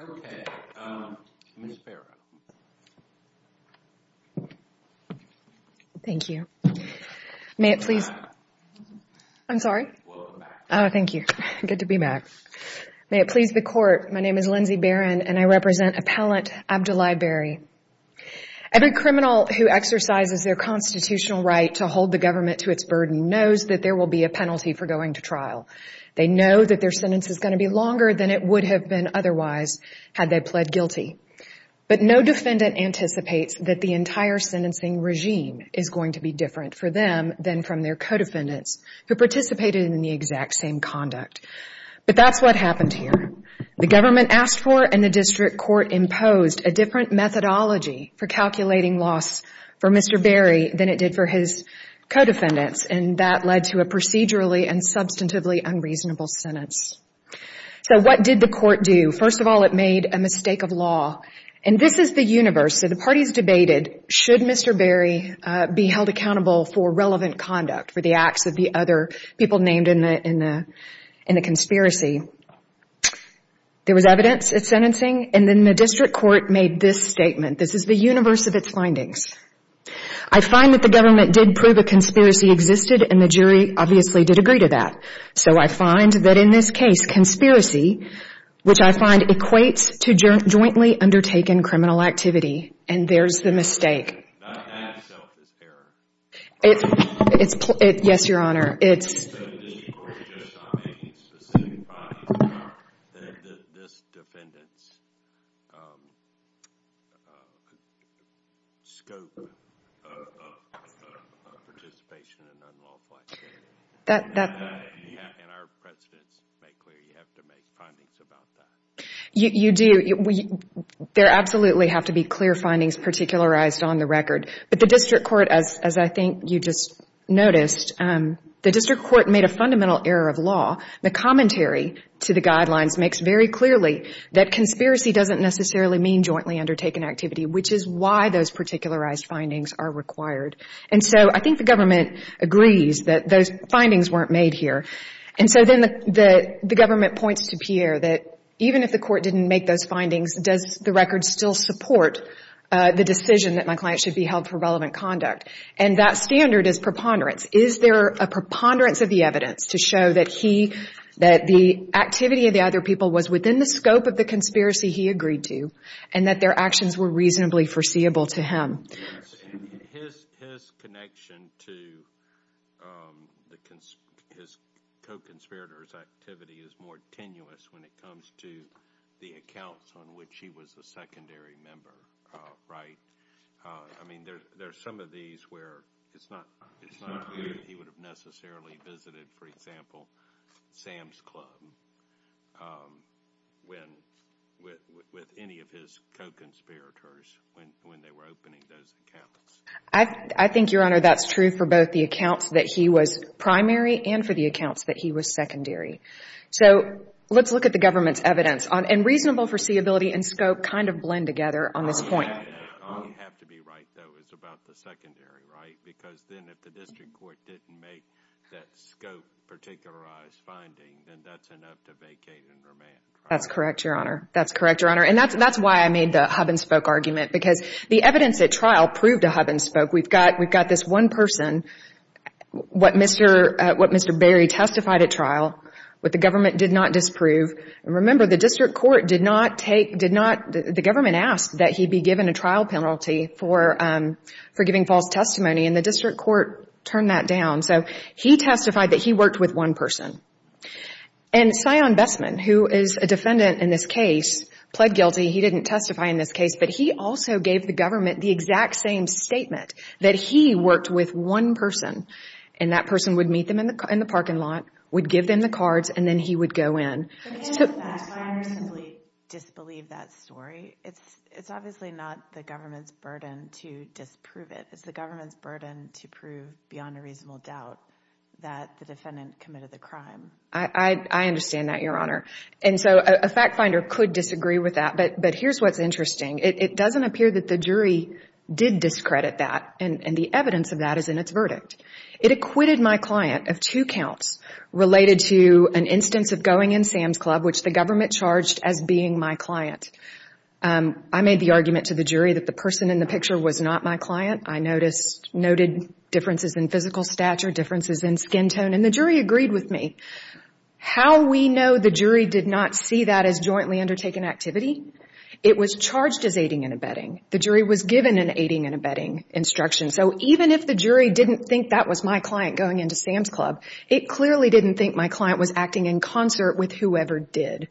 Okay, um, Ms. Barrow. May it please the Court, my name is Lindsay Barron and I represent Appellant Abdoulaye Barry. Every criminal who exercises their constitutional right to hold the government to its burden knows that there will be a penalty for going to trial. They know that their sentence is going to be longer than it would have been otherwise had they pled guilty. But no defendant anticipates that the entire sentencing regime is going to be different for them than from their co-defendants who participated in the exact same conduct. But that's what happened here. The government asked for and the district court imposed a different methodology for calculating loss for Mr. Barry than it did for his co-defendants and that led to a procedurally and substantively unreasonable sentence. So what did the court do? First of all, it made a mistake of law. And this is the universe. So the parties debated should Mr. Barry be held accountable for relevant conduct, for the acts of the other people named in the conspiracy. There was evidence at sentencing and then the district court made this statement. This is the universe of its findings. I find that the government did prove a conspiracy existed and the jury obviously did agree to that. So I find that in this case, conspiracy, which I find equates to jointly undertaken criminal activity and there's the mistake. Not that itself is error. Yes, Your Honor. It's... So the district court just stopped making specific findings about this defendant's scope of participation in unlawful activity. That... And our precedents make clear you have to make findings about that. You do. There absolutely have to be clear findings particularized on the record. But the district court, as I think you just noticed, the district court made a fundamental error of law. The commentary to the guidelines makes very clearly that conspiracy doesn't necessarily mean jointly undertaken activity, which is why those particularized findings are required. And so I think the government agrees that those findings weren't made here. And so then the government points to Pierre that even if the court didn't make those findings, does the record still support the decision that my client should be held for relevant conduct? And that standard is preponderance. Is there a preponderance of the evidence to show that he, that the activity of the other people was within the scope of the conspiracy he agreed to and that their actions were reasonably foreseeable to him? Yes. And his connection to his co-conspirators' activity is more tenuous when it comes to the accounts on which he was a secondary member, right? I mean, there's some of these where it's not clear that he would have necessarily visited, for example, Sam's Club with any of his co-conspirators when they were opening those accounts. I think, Your Honor, that's true for both the accounts that he was primary and for the accounts that he was secondary. So let's look at the government's evidence. And reasonable foreseeability and scope kind of blend together on this point. All you have to be right, though, is about the secondary, right? Because then if the district court didn't make that scope-particularized finding, then that's enough to vacate and remand trial. That's correct, Your Honor. That's correct, Your Honor. And that's why I made the hub-and-spoke argument, because the evidence at trial proved a hub-and-spoke. We've got this one person, what Mr. Berry testified at trial, what the government did not disprove. And remember, the district court did not take, did not, the government asked that he be given a trial penalty for giving false testimony, and the district court turned that down. So he testified that he worked with one person. And Sion Bestman, who is a defendant in this case, pled guilty. He didn't testify in this case, but he also gave the government the exact same statement that he worked with one person. And that person would meet them in the parking lot, would give them the cards, and then he would go in. So can't a fact finder simply disbelieve that story? It's obviously not the government's burden to disprove it. It's the government's burden to prove beyond a reasonable doubt that the defendant committed the crime. I understand that, Your Honor. And so a fact finder could disagree with that, but here's what's interesting. It doesn't appear that the jury did discredit that, and the evidence of that is in its verdict. It acquitted my client of two counts related to an instance of going in Sam's Club, which the government charged as being my client. I made the argument to the jury that the person in the picture was not my client. I noted differences in physical stature, differences in skin tone, and the jury agreed with me. How we know the jury did not see that as jointly undertaken activity? It was charged as aiding and abetting. The jury was given an aiding and abetting instruction. So even if the jury didn't think that was my client going into Sam's Club, it clearly didn't think my client was acting in concert with whoever did.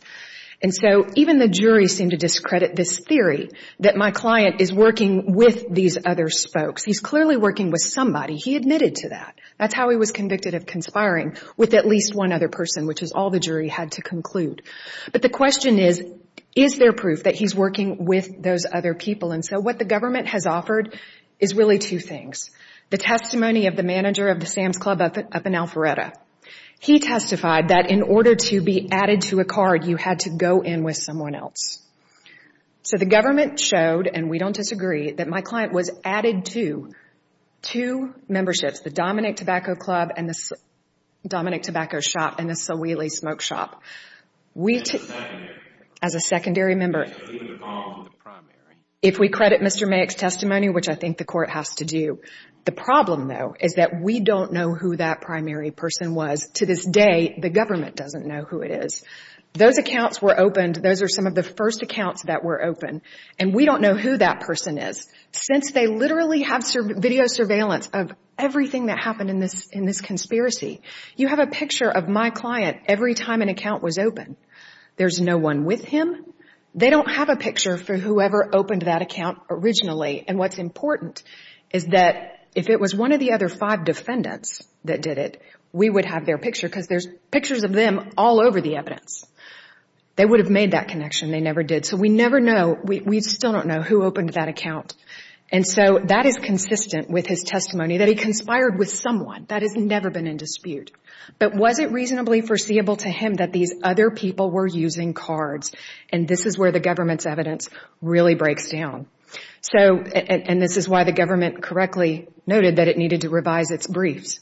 And so even the jury seemed to discredit this theory that my client is working with these other folks. He's clearly working with somebody. He admitted to that. That's how he was convicted of conspiring with at least one other person, which is all the jury had to conclude. But the question is, is there proof that he's working with those other people? So what the government has offered is really two things. The testimony of the manager of the Sam's Club up in Alpharetta. He testified that in order to be added to a card, you had to go in with someone else. So the government showed, and we don't disagree, that my client was added to two memberships, the Dominick Tobacco Club and the Dominick Tobacco Shop and the Sawheelie Smoke Shop. As a secondary member, if we credit Mr. Mayick's testimony, which I think the court has to do, the problem, though, is that we don't know who that primary person was. To this day, the government doesn't know who it is. Those accounts were opened. Those are some of the first accounts that were opened. And we don't know who that person is. Since they literally have video surveillance of everything that happened in this conspiracy, you have a picture of my client every time an account was opened. There's no one with him. They don't have a picture for whoever opened that account originally. And what's important is that if it was one of the other five defendants that did it, we would have their picture because there's pictures of them all over the evidence. They would have made that connection. They never did. So we never know. We still don't know who opened that account. And so that is consistent with his testimony that he conspired with someone. That has never been in dispute. But was it reasonably foreseeable to him that these other people were using cards? And this is where the government's evidence really breaks down. And this is why the government correctly noted that it needed to revise its briefs.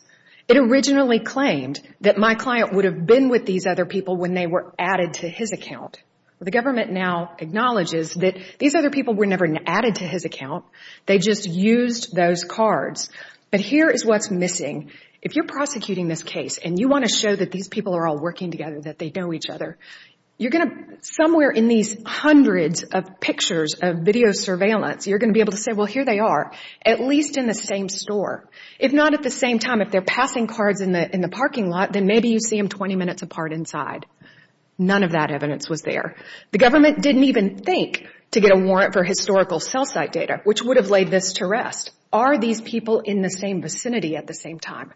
It originally claimed that my client would have been with these other people when they were added to his account. The government now acknowledges that these other people were never added to his account. They just used those cards. But here is what's missing. If you're prosecuting this case and you want to show that these people are all working together, that they know each other, you're going to, somewhere in these hundreds of pictures of video surveillance, you're going to be able to say, well, here they are, at least in the same store. If not at the same time, if they're passing cards in the parking lot, then maybe you see them 20 minutes apart inside. None of that evidence was there. The government didn't even think to get a warrant for historical cell site data, which would have laid this to rest. Are these people in the same vicinity at the same time?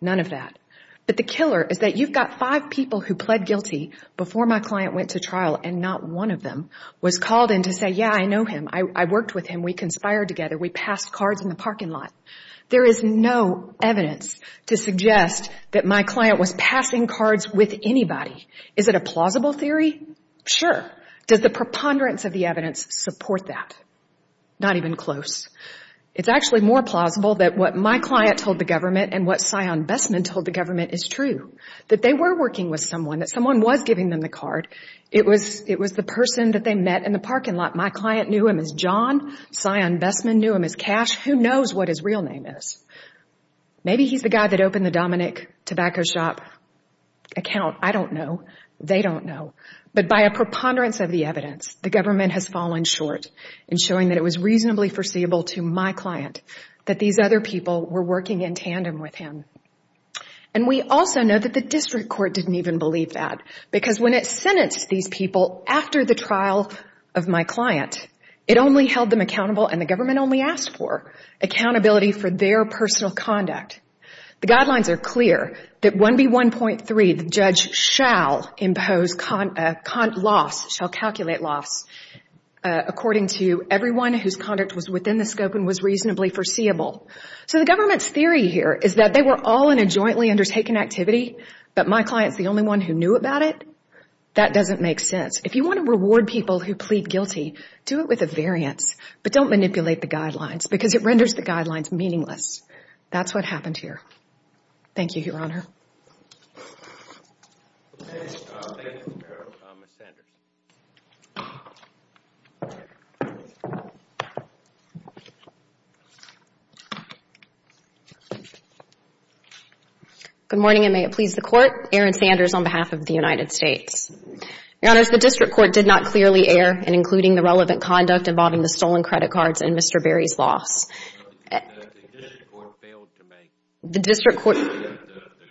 None of that. But the killer is that you've got five people who pled guilty before my client went to trial and not one of them was called in to say, yeah, I know him. I worked with him. We conspired together. We passed cards in the parking lot. There is no evidence to suggest that my client was passing cards with anybody. Is it a plausible theory? Sure. Does the preponderance of the evidence support that? Not even close. It's actually more plausible that what my client told the government and what Sion Bessman told the government is true, that they were working with someone, that someone was giving them the card. It was the person that they met in the parking lot. My client knew him as John. Sion Bessman knew him as Cash. Who knows what his real name is? Maybe he's the guy that opened the Dominick tobacco shop account. I don't know. They don't know. But by a preponderance of the evidence, the government has fallen short in showing that it was reasonably foreseeable to my client that these other people were working in tandem with him. We also know that the district court didn't even believe that because when it sentenced these people after the trial of my client, it only held them accountable and the government only asked for accountability for their personal conduct. The guidelines are clear that 1B1.3, the judge shall impose loss, shall calculate loss according to everyone whose conduct was within the scope and was reasonably foreseeable. So the government's theory here is that they were all in a jointly undertaken activity, but my client's the only one who knew about it. That doesn't make sense. If you want to reward people who plead guilty, do it with a variance, but don't manipulate the guidelines because it renders the guidelines meaningless. That's what happened here. Thank you, Your Honor. Thank you, Ms. Merrill. Ms. Sanders. Good morning, and may it please the Court. Erin Sanders on behalf of the United States. Your Honors, the district court did not clearly err in including the relevant conduct involving the stolen credit cards and Mr. Berry's loss. The district court failed to make the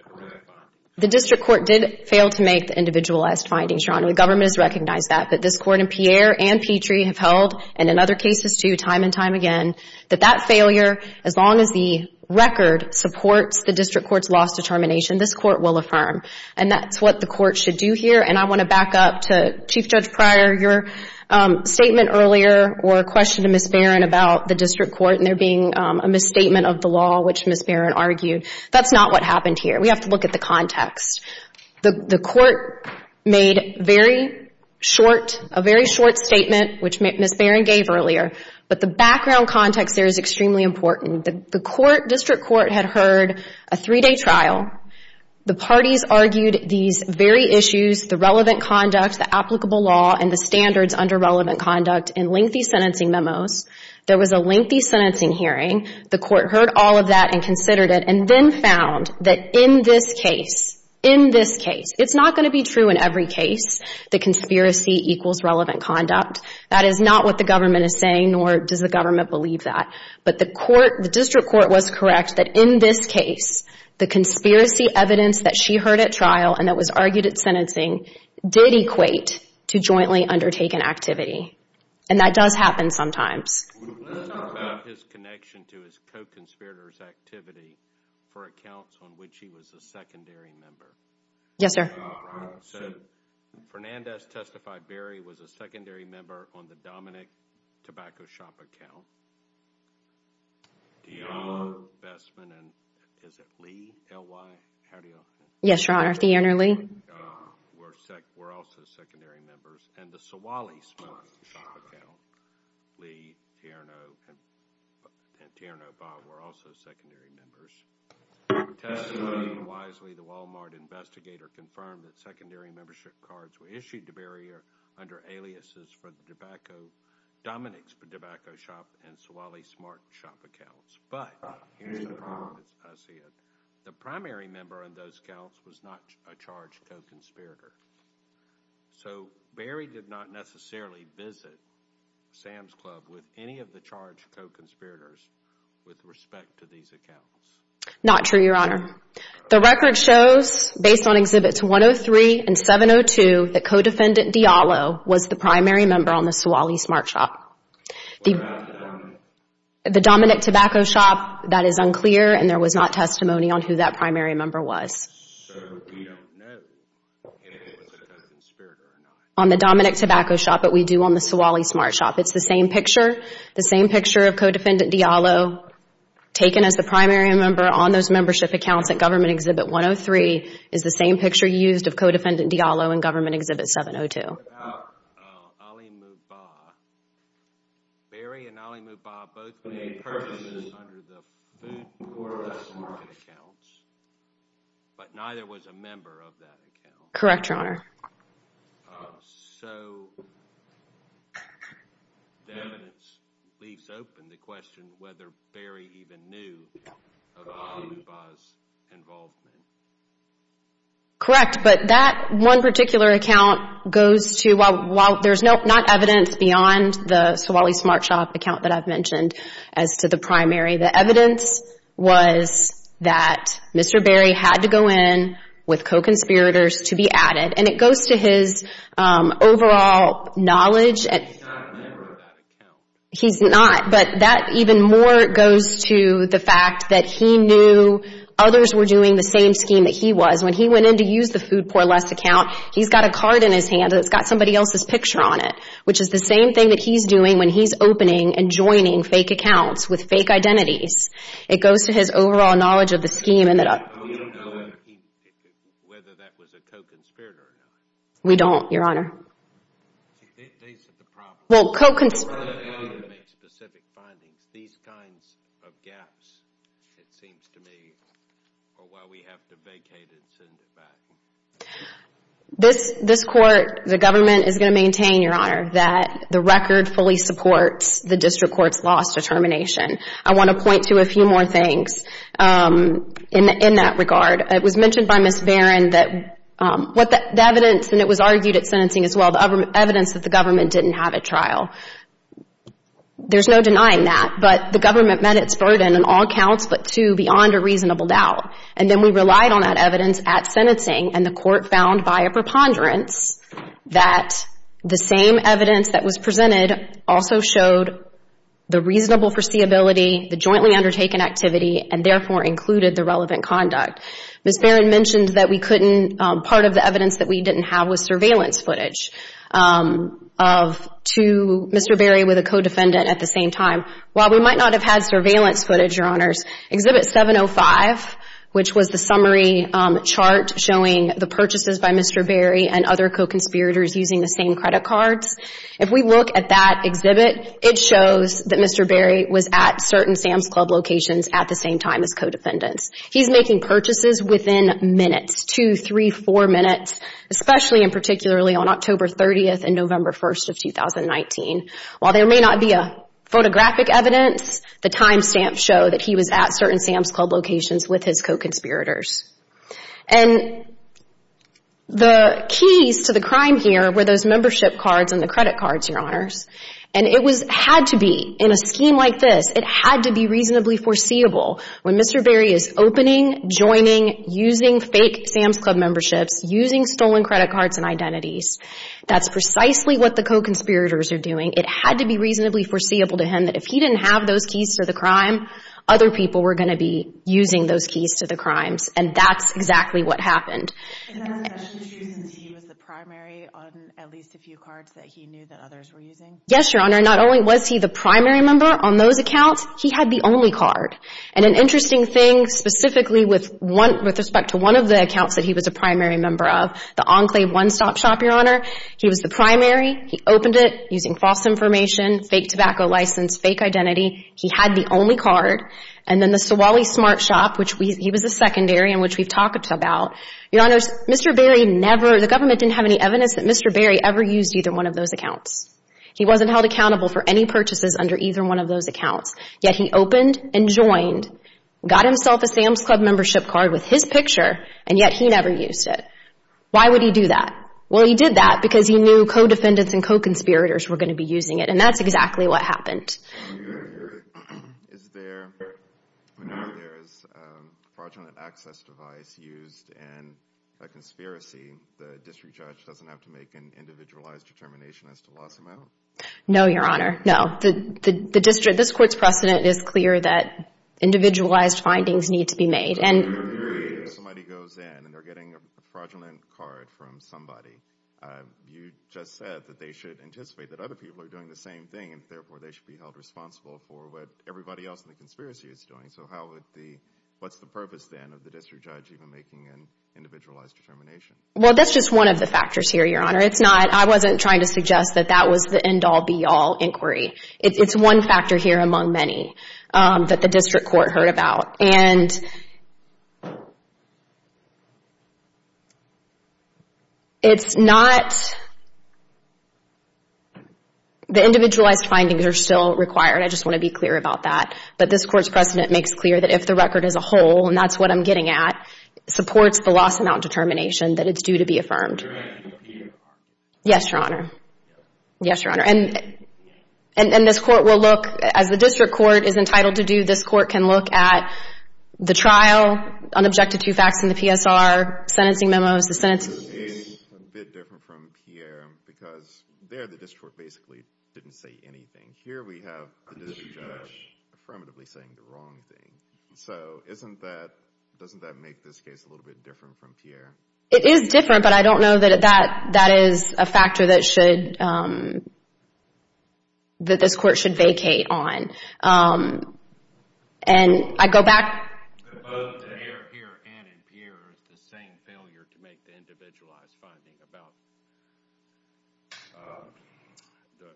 correct findings. The district court did fail to make the individualized findings, Your Honor, and the government has recognized that. But this Court and Pierre and Petrie have held, and in other cases too, time and time again, that that failure, as long as the record supports the district court's loss determination, this Court will affirm. And that's what the Court should do here, and I want to back up to Chief Judge Pryor, your statement earlier or a question to Ms. Barron about the district court and there being a misstatement of the law, which Ms. Barron argued. That's not what happened here. We have to look at the context. The Court made very short, a very short statement, which Ms. Barron gave earlier, but the background context there is extremely important. The court, district court, had heard a three-day trial. The parties argued these very issues, the relevant conduct, the applicable law, and the standards under relevant conduct in lengthy sentencing memos. There was a lengthy sentencing hearing. The court heard all of that and considered it and then found that in this case, in this case, it's not going to be true in every case, the conspiracy equals relevant conduct. That is not what the government is saying, nor does the government believe that. But the court, the district court was correct that in this case, the conspiracy evidence that she heard at trial and that was argued at sentencing did equate to jointly undertaken activity and that does happen sometimes. Let's talk about his connection to his co-conspirators activity for accounts on which he was a secondary member. Yes, sir. So, Fernandez testified Barry was a secondary member on the Dominick Tobacco Shop account. DeAnna Bestman and is it Lee, L-Y, how do y'all say it? Yes, your honor, DeAnna Lee. Were also secondary members and the Sewally Smoke Shop account, Lee, DeAnna, and DeAnna Bob were also secondary members. Testimony wisely, the Walmart investigator confirmed that secondary membership cards were issued to Barry under aliases for the Tobacco, Dominick's Tobacco Shop and Sewally Smart Shop accounts. But, here's the problem, I see it. The primary member on those accounts was not a charged co-conspirator. So, Barry did not necessarily visit Sam's Club with any of the charged co-conspirators with respect to these accounts. Not true, your honor. The record shows, based on Exhibits 103 and 702, that Co-Defendant Diallo was the primary member on the Sewally Smart Shop. What about the Dominick? The Dominick Tobacco Shop, that is unclear and there was not testimony on who that primary member was. So, we don't know if it was a conspirator or not. On the Dominick Tobacco Shop, but we do on the Sewally Smart Shop. It's the same picture. The same picture of Co-Defendant Diallo taken as the primary member on those membership accounts at Government Exhibit 103 is the same picture used of Co-Defendant Diallo in Government Exhibit 702. What about Ali Mubah? Barry and Ali Mubah both made purchases under the Food Portable Market accounts, but neither was a member of that account. Correct, your honor. So, the evidence leaves open the question whether Barry even knew of Ali Mubah's involvement. Correct, but that one particular account goes to, while there's not evidence beyond the Sewally Smart Shop account that I've mentioned as to the primary, the evidence was that Mr. He's not a member of that account. He's not, but that even more goes to the fact that he knew others were doing the same scheme that he was. When he went in to use the FoodPortless account, he's got a card in his hand that's got somebody else's picture on it, which is the same thing that he's doing when he's opening and joining fake accounts with fake identities. It goes to his overall knowledge of the scheme. We don't know whether that was a co-conspirator or not. We don't, your honor. These are the problems. Well, co-conspirators. Rather than make specific findings, these kinds of gaps, it seems to me, are why we have to vacate and send it back. This court, the government, is going to maintain, your honor, that the record fully supports the district court's loss determination. I want to point to a few more things in that regard. It was mentioned by Ms. Barron that the evidence, and it was argued at sentencing as well, the evidence that the government didn't have at trial, there's no denying that. But the government met its burden in all counts but two beyond a reasonable doubt. And then we relied on that evidence at sentencing, and the court found via preponderance that the same evidence that was presented also showed the reasonable foreseeability, the jointly undertaken activity, and therefore included the relevant conduct. Ms. Barron mentioned that we couldn't, part of the evidence that we didn't have was surveillance footage of two, Mr. Berry with a co-defendant at the same time. While we might not have had surveillance footage, your honors, Exhibit 705, which was the and other co-conspirators using the same credit cards, if we look at that exhibit, it shows that Mr. Berry was at certain Sam's Club locations at the same time as co-defendants. He's making purchases within minutes, two, three, four minutes, especially and particularly on October 30th and November 1st of 2019. While there may not be a photographic evidence, the timestamps show that he was at certain Sam's Club locations with his co-conspirators. And the keys to the crime here were those membership cards and the credit cards, your honors. And it had to be, in a scheme like this, it had to be reasonably foreseeable. When Mr. Berry is opening, joining, using fake Sam's Club memberships, using stolen credit cards and identities, that's precisely what the co-conspirators are doing. It had to be reasonably foreseeable to him that if he didn't have those keys to the crime, other people were going to be using those keys to the crimes. And that's exactly what happened. And that's actually true since he was the primary on at least a few cards that he knew that others were using? Yes, your honor. Not only was he the primary member on those accounts, he had the only card. And an interesting thing, specifically with respect to one of the accounts that he was a primary member of, the Enclave one-stop shop, your honor, he was the primary. He opened it using false information, fake tobacco license, fake identity. He had the only card. And then the Sewally Smart Shop, which he was a secondary and which we've talked about, your honors, Mr. Berry never, the government didn't have any evidence that Mr. Berry ever used either one of those accounts. He wasn't held accountable for any purchases under either one of those accounts. Yet he opened and joined, got himself a Sam's Club membership card with his picture, and yet he never used it. Why would he do that? Well, he did that because he knew co-defendants and co-conspirators were going to be using it. And that's exactly what happened. Is there, whenever there is a fraudulent access device used in a conspiracy, the district judge doesn't have to make an individualized determination as to the loss amount? No, your honor, no. The district, this court's precedent is clear that individualized findings need to be made. And if somebody goes in and they're getting a fraudulent card from somebody, you just said that they should anticipate that other people are doing the same thing, and therefore they should be held responsible for what everybody else in the conspiracy is doing. So how would the, what's the purpose then of the district judge even making an individualized determination? Well, that's just one of the factors here, your honor. It's not, I wasn't trying to suggest that that was the end-all, be-all inquiry. It's one factor here among many that the district court heard about. And it's not, the individualized findings are still required. I just want to be clear about that. But this court's precedent makes clear that if the record is a whole, and that's what I'm getting at, supports the loss amount determination, that it's due to be affirmed. Yes, your honor. Yes, your honor. And this court will look, as the district court is entitled to do, this court can look at the trial, unobjected to facts in the PSR, sentencing memos. This is a bit different from Pierre because there the district court basically didn't say anything. Here we have the district judge affirmatively saying the wrong thing. So isn't that, doesn't that make this case a little bit different from Pierre? It is different, but I don't know that that is a factor that should, that this court should vacate on. And I go back. Both here and in Pierre, the same failure to make the individualized finding about the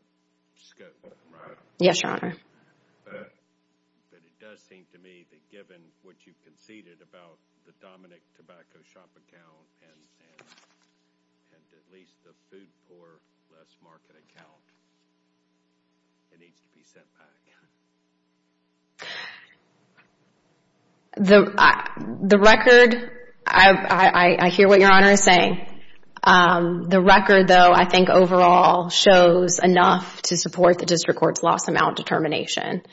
scope, right? Yes, your honor. But it does seem to me that given what you conceded about the Dominick Tobacco Shop account and at least the food for less market account, it needs to be sent back. The record, I hear what your honor is saying. The record, though, I think overall shows enough to support the district court's loss amount determination.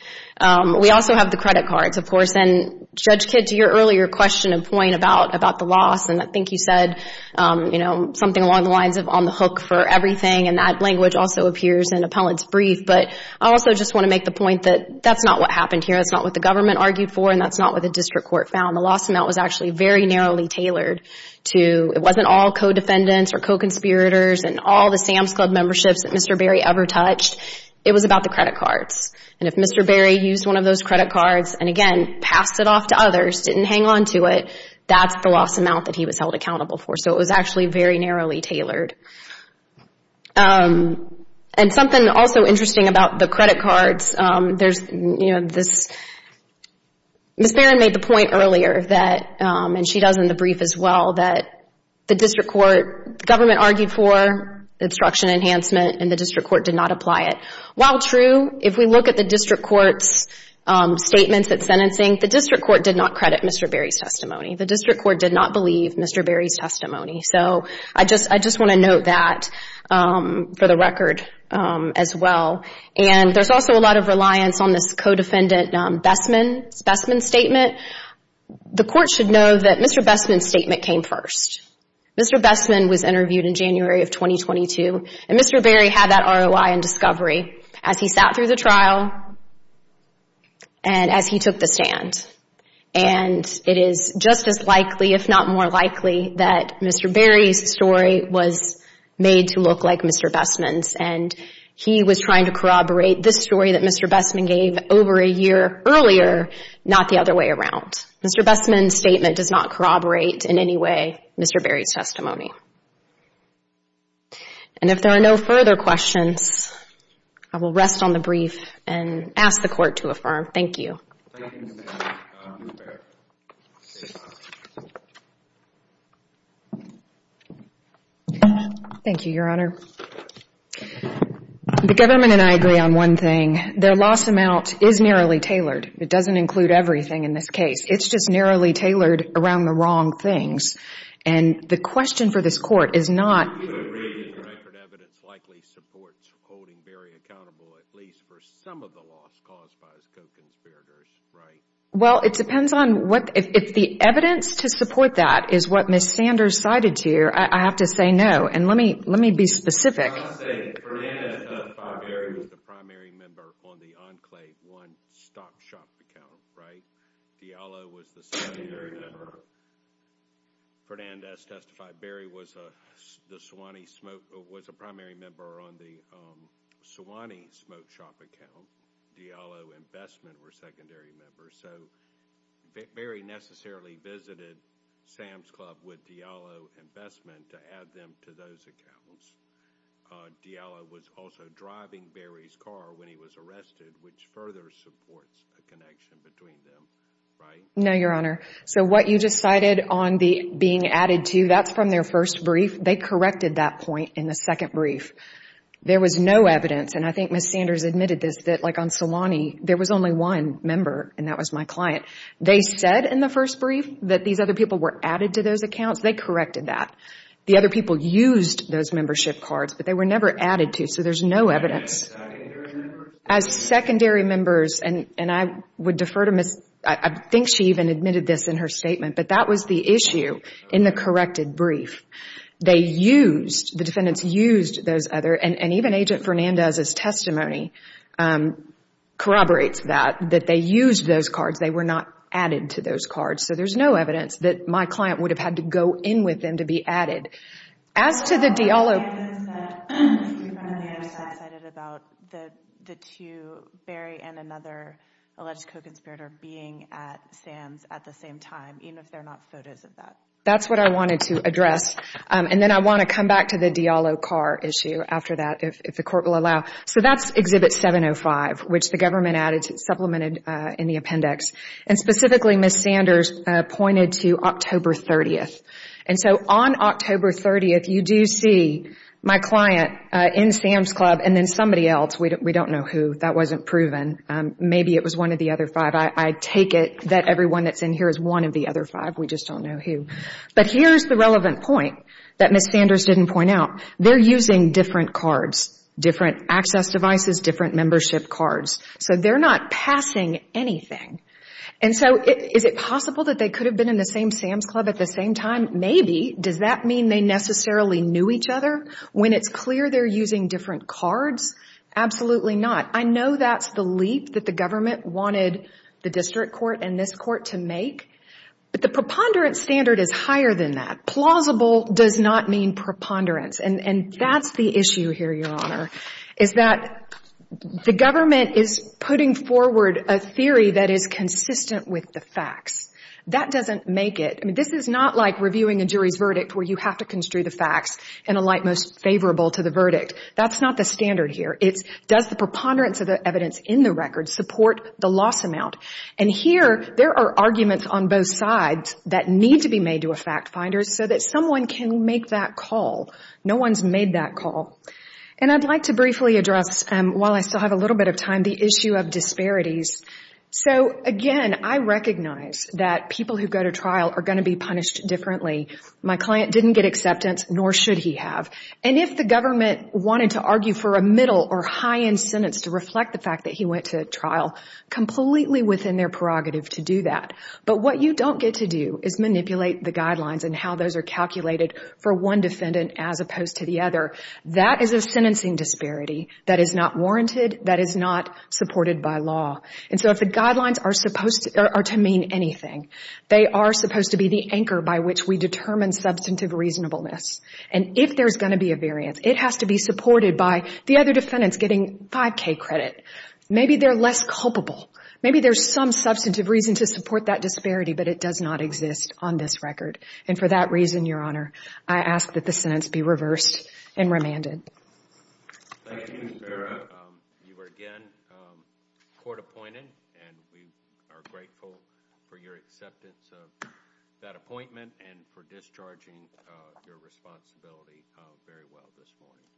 We also have the credit cards, of course, and Judge Kidd, to your earlier question and point about the loss, and I think you said, you know, something along the lines of on the hook for everything, and that language also appears in Appellant's brief. But I also just want to make the point that that's not what happened here. That's not what the government argued for, and that's not what the district court found. The loss amount was actually very narrowly tailored to, it wasn't all co-defendants or co-conspirators and all the Sam's Club memberships that Mr. Berry ever touched. It was about the credit cards. And if Mr. Berry used one of those credit cards and, again, passed it off to others, didn't hang on to it, that's the loss amount that he was held accountable for. So it was actually very narrowly tailored. And something also interesting about the credit cards, there's, you know, this. Ms. Barron made the point earlier that, and she does in the brief as well, that the district court, the government argued for obstruction enhancement, and the district court did not apply it. While true, if we look at the district court's statements at sentencing, the district court did not credit Mr. Berry's testimony. The district court did not believe Mr. Berry's testimony. So I just want to note that for the record as well. And there's also a lot of reliance on this co-defendant Bestman's statement. The court should know that Mr. Bestman's statement came first. Mr. Bestman was interviewed in January of 2022, and Mr. Berry had that ROI in discovery as he sat through the trial and as he took the stand. And it is just as likely, if not more likely, that Mr. Berry's story was made to look like Mr. Bestman's. And he was trying to corroborate this story that Mr. Bestman gave over a year earlier, not the other way around. Mr. Bestman's statement does not corroborate in any way Mr. Berry's testimony. And if there are no further questions, I will rest on the brief and ask the court to affirm. Thank you. Thank you, Your Honor. The government and I agree on one thing. Their loss amount is narrowly tailored. It doesn't include everything in this case. It's just narrowly tailored around the wrong things. And the question for this court is not... We would agree that the record evidence likely supports holding Berry accountable, at least for some of the loss caused by his co-conspirators, right? Well, it depends on what... If the evidence to support that is what Ms. Sanders cited here, I have to say no. And let me be specific. I'm not saying that Fernandez does not find Berry was the primary member on the Enclave One stock shop account, right? Fiala was the secondary member. Fernandez testified Berry was a primary member on the Sewanee smoke shop account. Diallo and Bestman were secondary members. So Berry necessarily visited Sam's Club with Diallo and Bestman to add them to those accounts. Diallo was also driving Berry's car when he was arrested, which further supports a connection between them, right? No, Your Honor. So what you just cited on being added to, that's from their first brief. They corrected that point in the second brief. There was no evidence, and I think Ms. Sanders admitted this, that like on Sewanee, there was only one member, and that was my client. They said in the first brief that these other people were added to those accounts. They corrected that. The other people used those membership cards, but they were never added to, so there's no evidence. As secondary members, and I would defer to Ms. I think she even admitted this in her statement, but that was the issue in the corrected brief. They used, the defendants used those other, and even Agent Fernandez's testimony corroborates that, that they used those cards. They were not added to those cards. So there's no evidence that my client would have had to go in with them to be added. As to the Diallo, That's what I wanted to address. And then I want to come back to the Diallo car issue after that, if the Court will allow. So that's Exhibit 705, which the government added, supplemented in the appendix. And specifically, Ms. Sanders pointed to October 30th. And so on October 30th, you do see my client in Sam's Club and then somebody else. We don't know who. That wasn't proven. Maybe it was one of the other five. I take it that everyone that's in here is one of the other five. We just don't know who. But here's the relevant point that Ms. Sanders didn't point out. They're using different cards, different access devices, different membership cards. So they're not passing anything. And so is it possible that they could have been in the same Sam's Club at the same time? Maybe. Does that mean they necessarily knew each other? When it's clear they're using different cards, absolutely not. I know that's the leap that the government wanted the district court and this court to make. But the preponderance standard is higher than that. Plausible does not mean preponderance. And that's the issue here, Your Honor, is that the government is putting forward a theory that is consistent with the facts. That doesn't make it. This is not like reviewing a jury's verdict where you have to construe the facts in a light most favorable to the verdict. That's not the standard here. It's does the preponderance of the evidence in the record support the loss amount. And here there are arguments on both sides that need to be made to a fact finder so that someone can make that call. No one's made that call. And I'd like to briefly address, while I still have a little bit of time, the issue of disparities. So, again, I recognize that people who go to trial are going to be punished differently. My client didn't get acceptance, nor should he have. And if the government wanted to argue for a middle or high-end sentence to reflect the fact that he went to trial, completely within their prerogative to do that. But what you don't get to do is manipulate the guidelines and how those are calculated for one defendant as opposed to the other. That is a sentencing disparity that is not warranted, that is not supported by law. And so if the guidelines are to mean anything, they are supposed to be the anchor by which we determine substantive reasonableness. And if there's going to be a variance, it has to be supported by the other defendants getting 5K credit. Maybe they're less culpable. Maybe there's some substantive reason to support that disparity, but it does not exist on this record. And for that reason, Your Honor, I ask that the sentence be reversed and remanded. Thank you, Ms. Vera. You are again court-appointed, and we are grateful for your acceptance of that appointment and for discharging your responsibility very well this morning.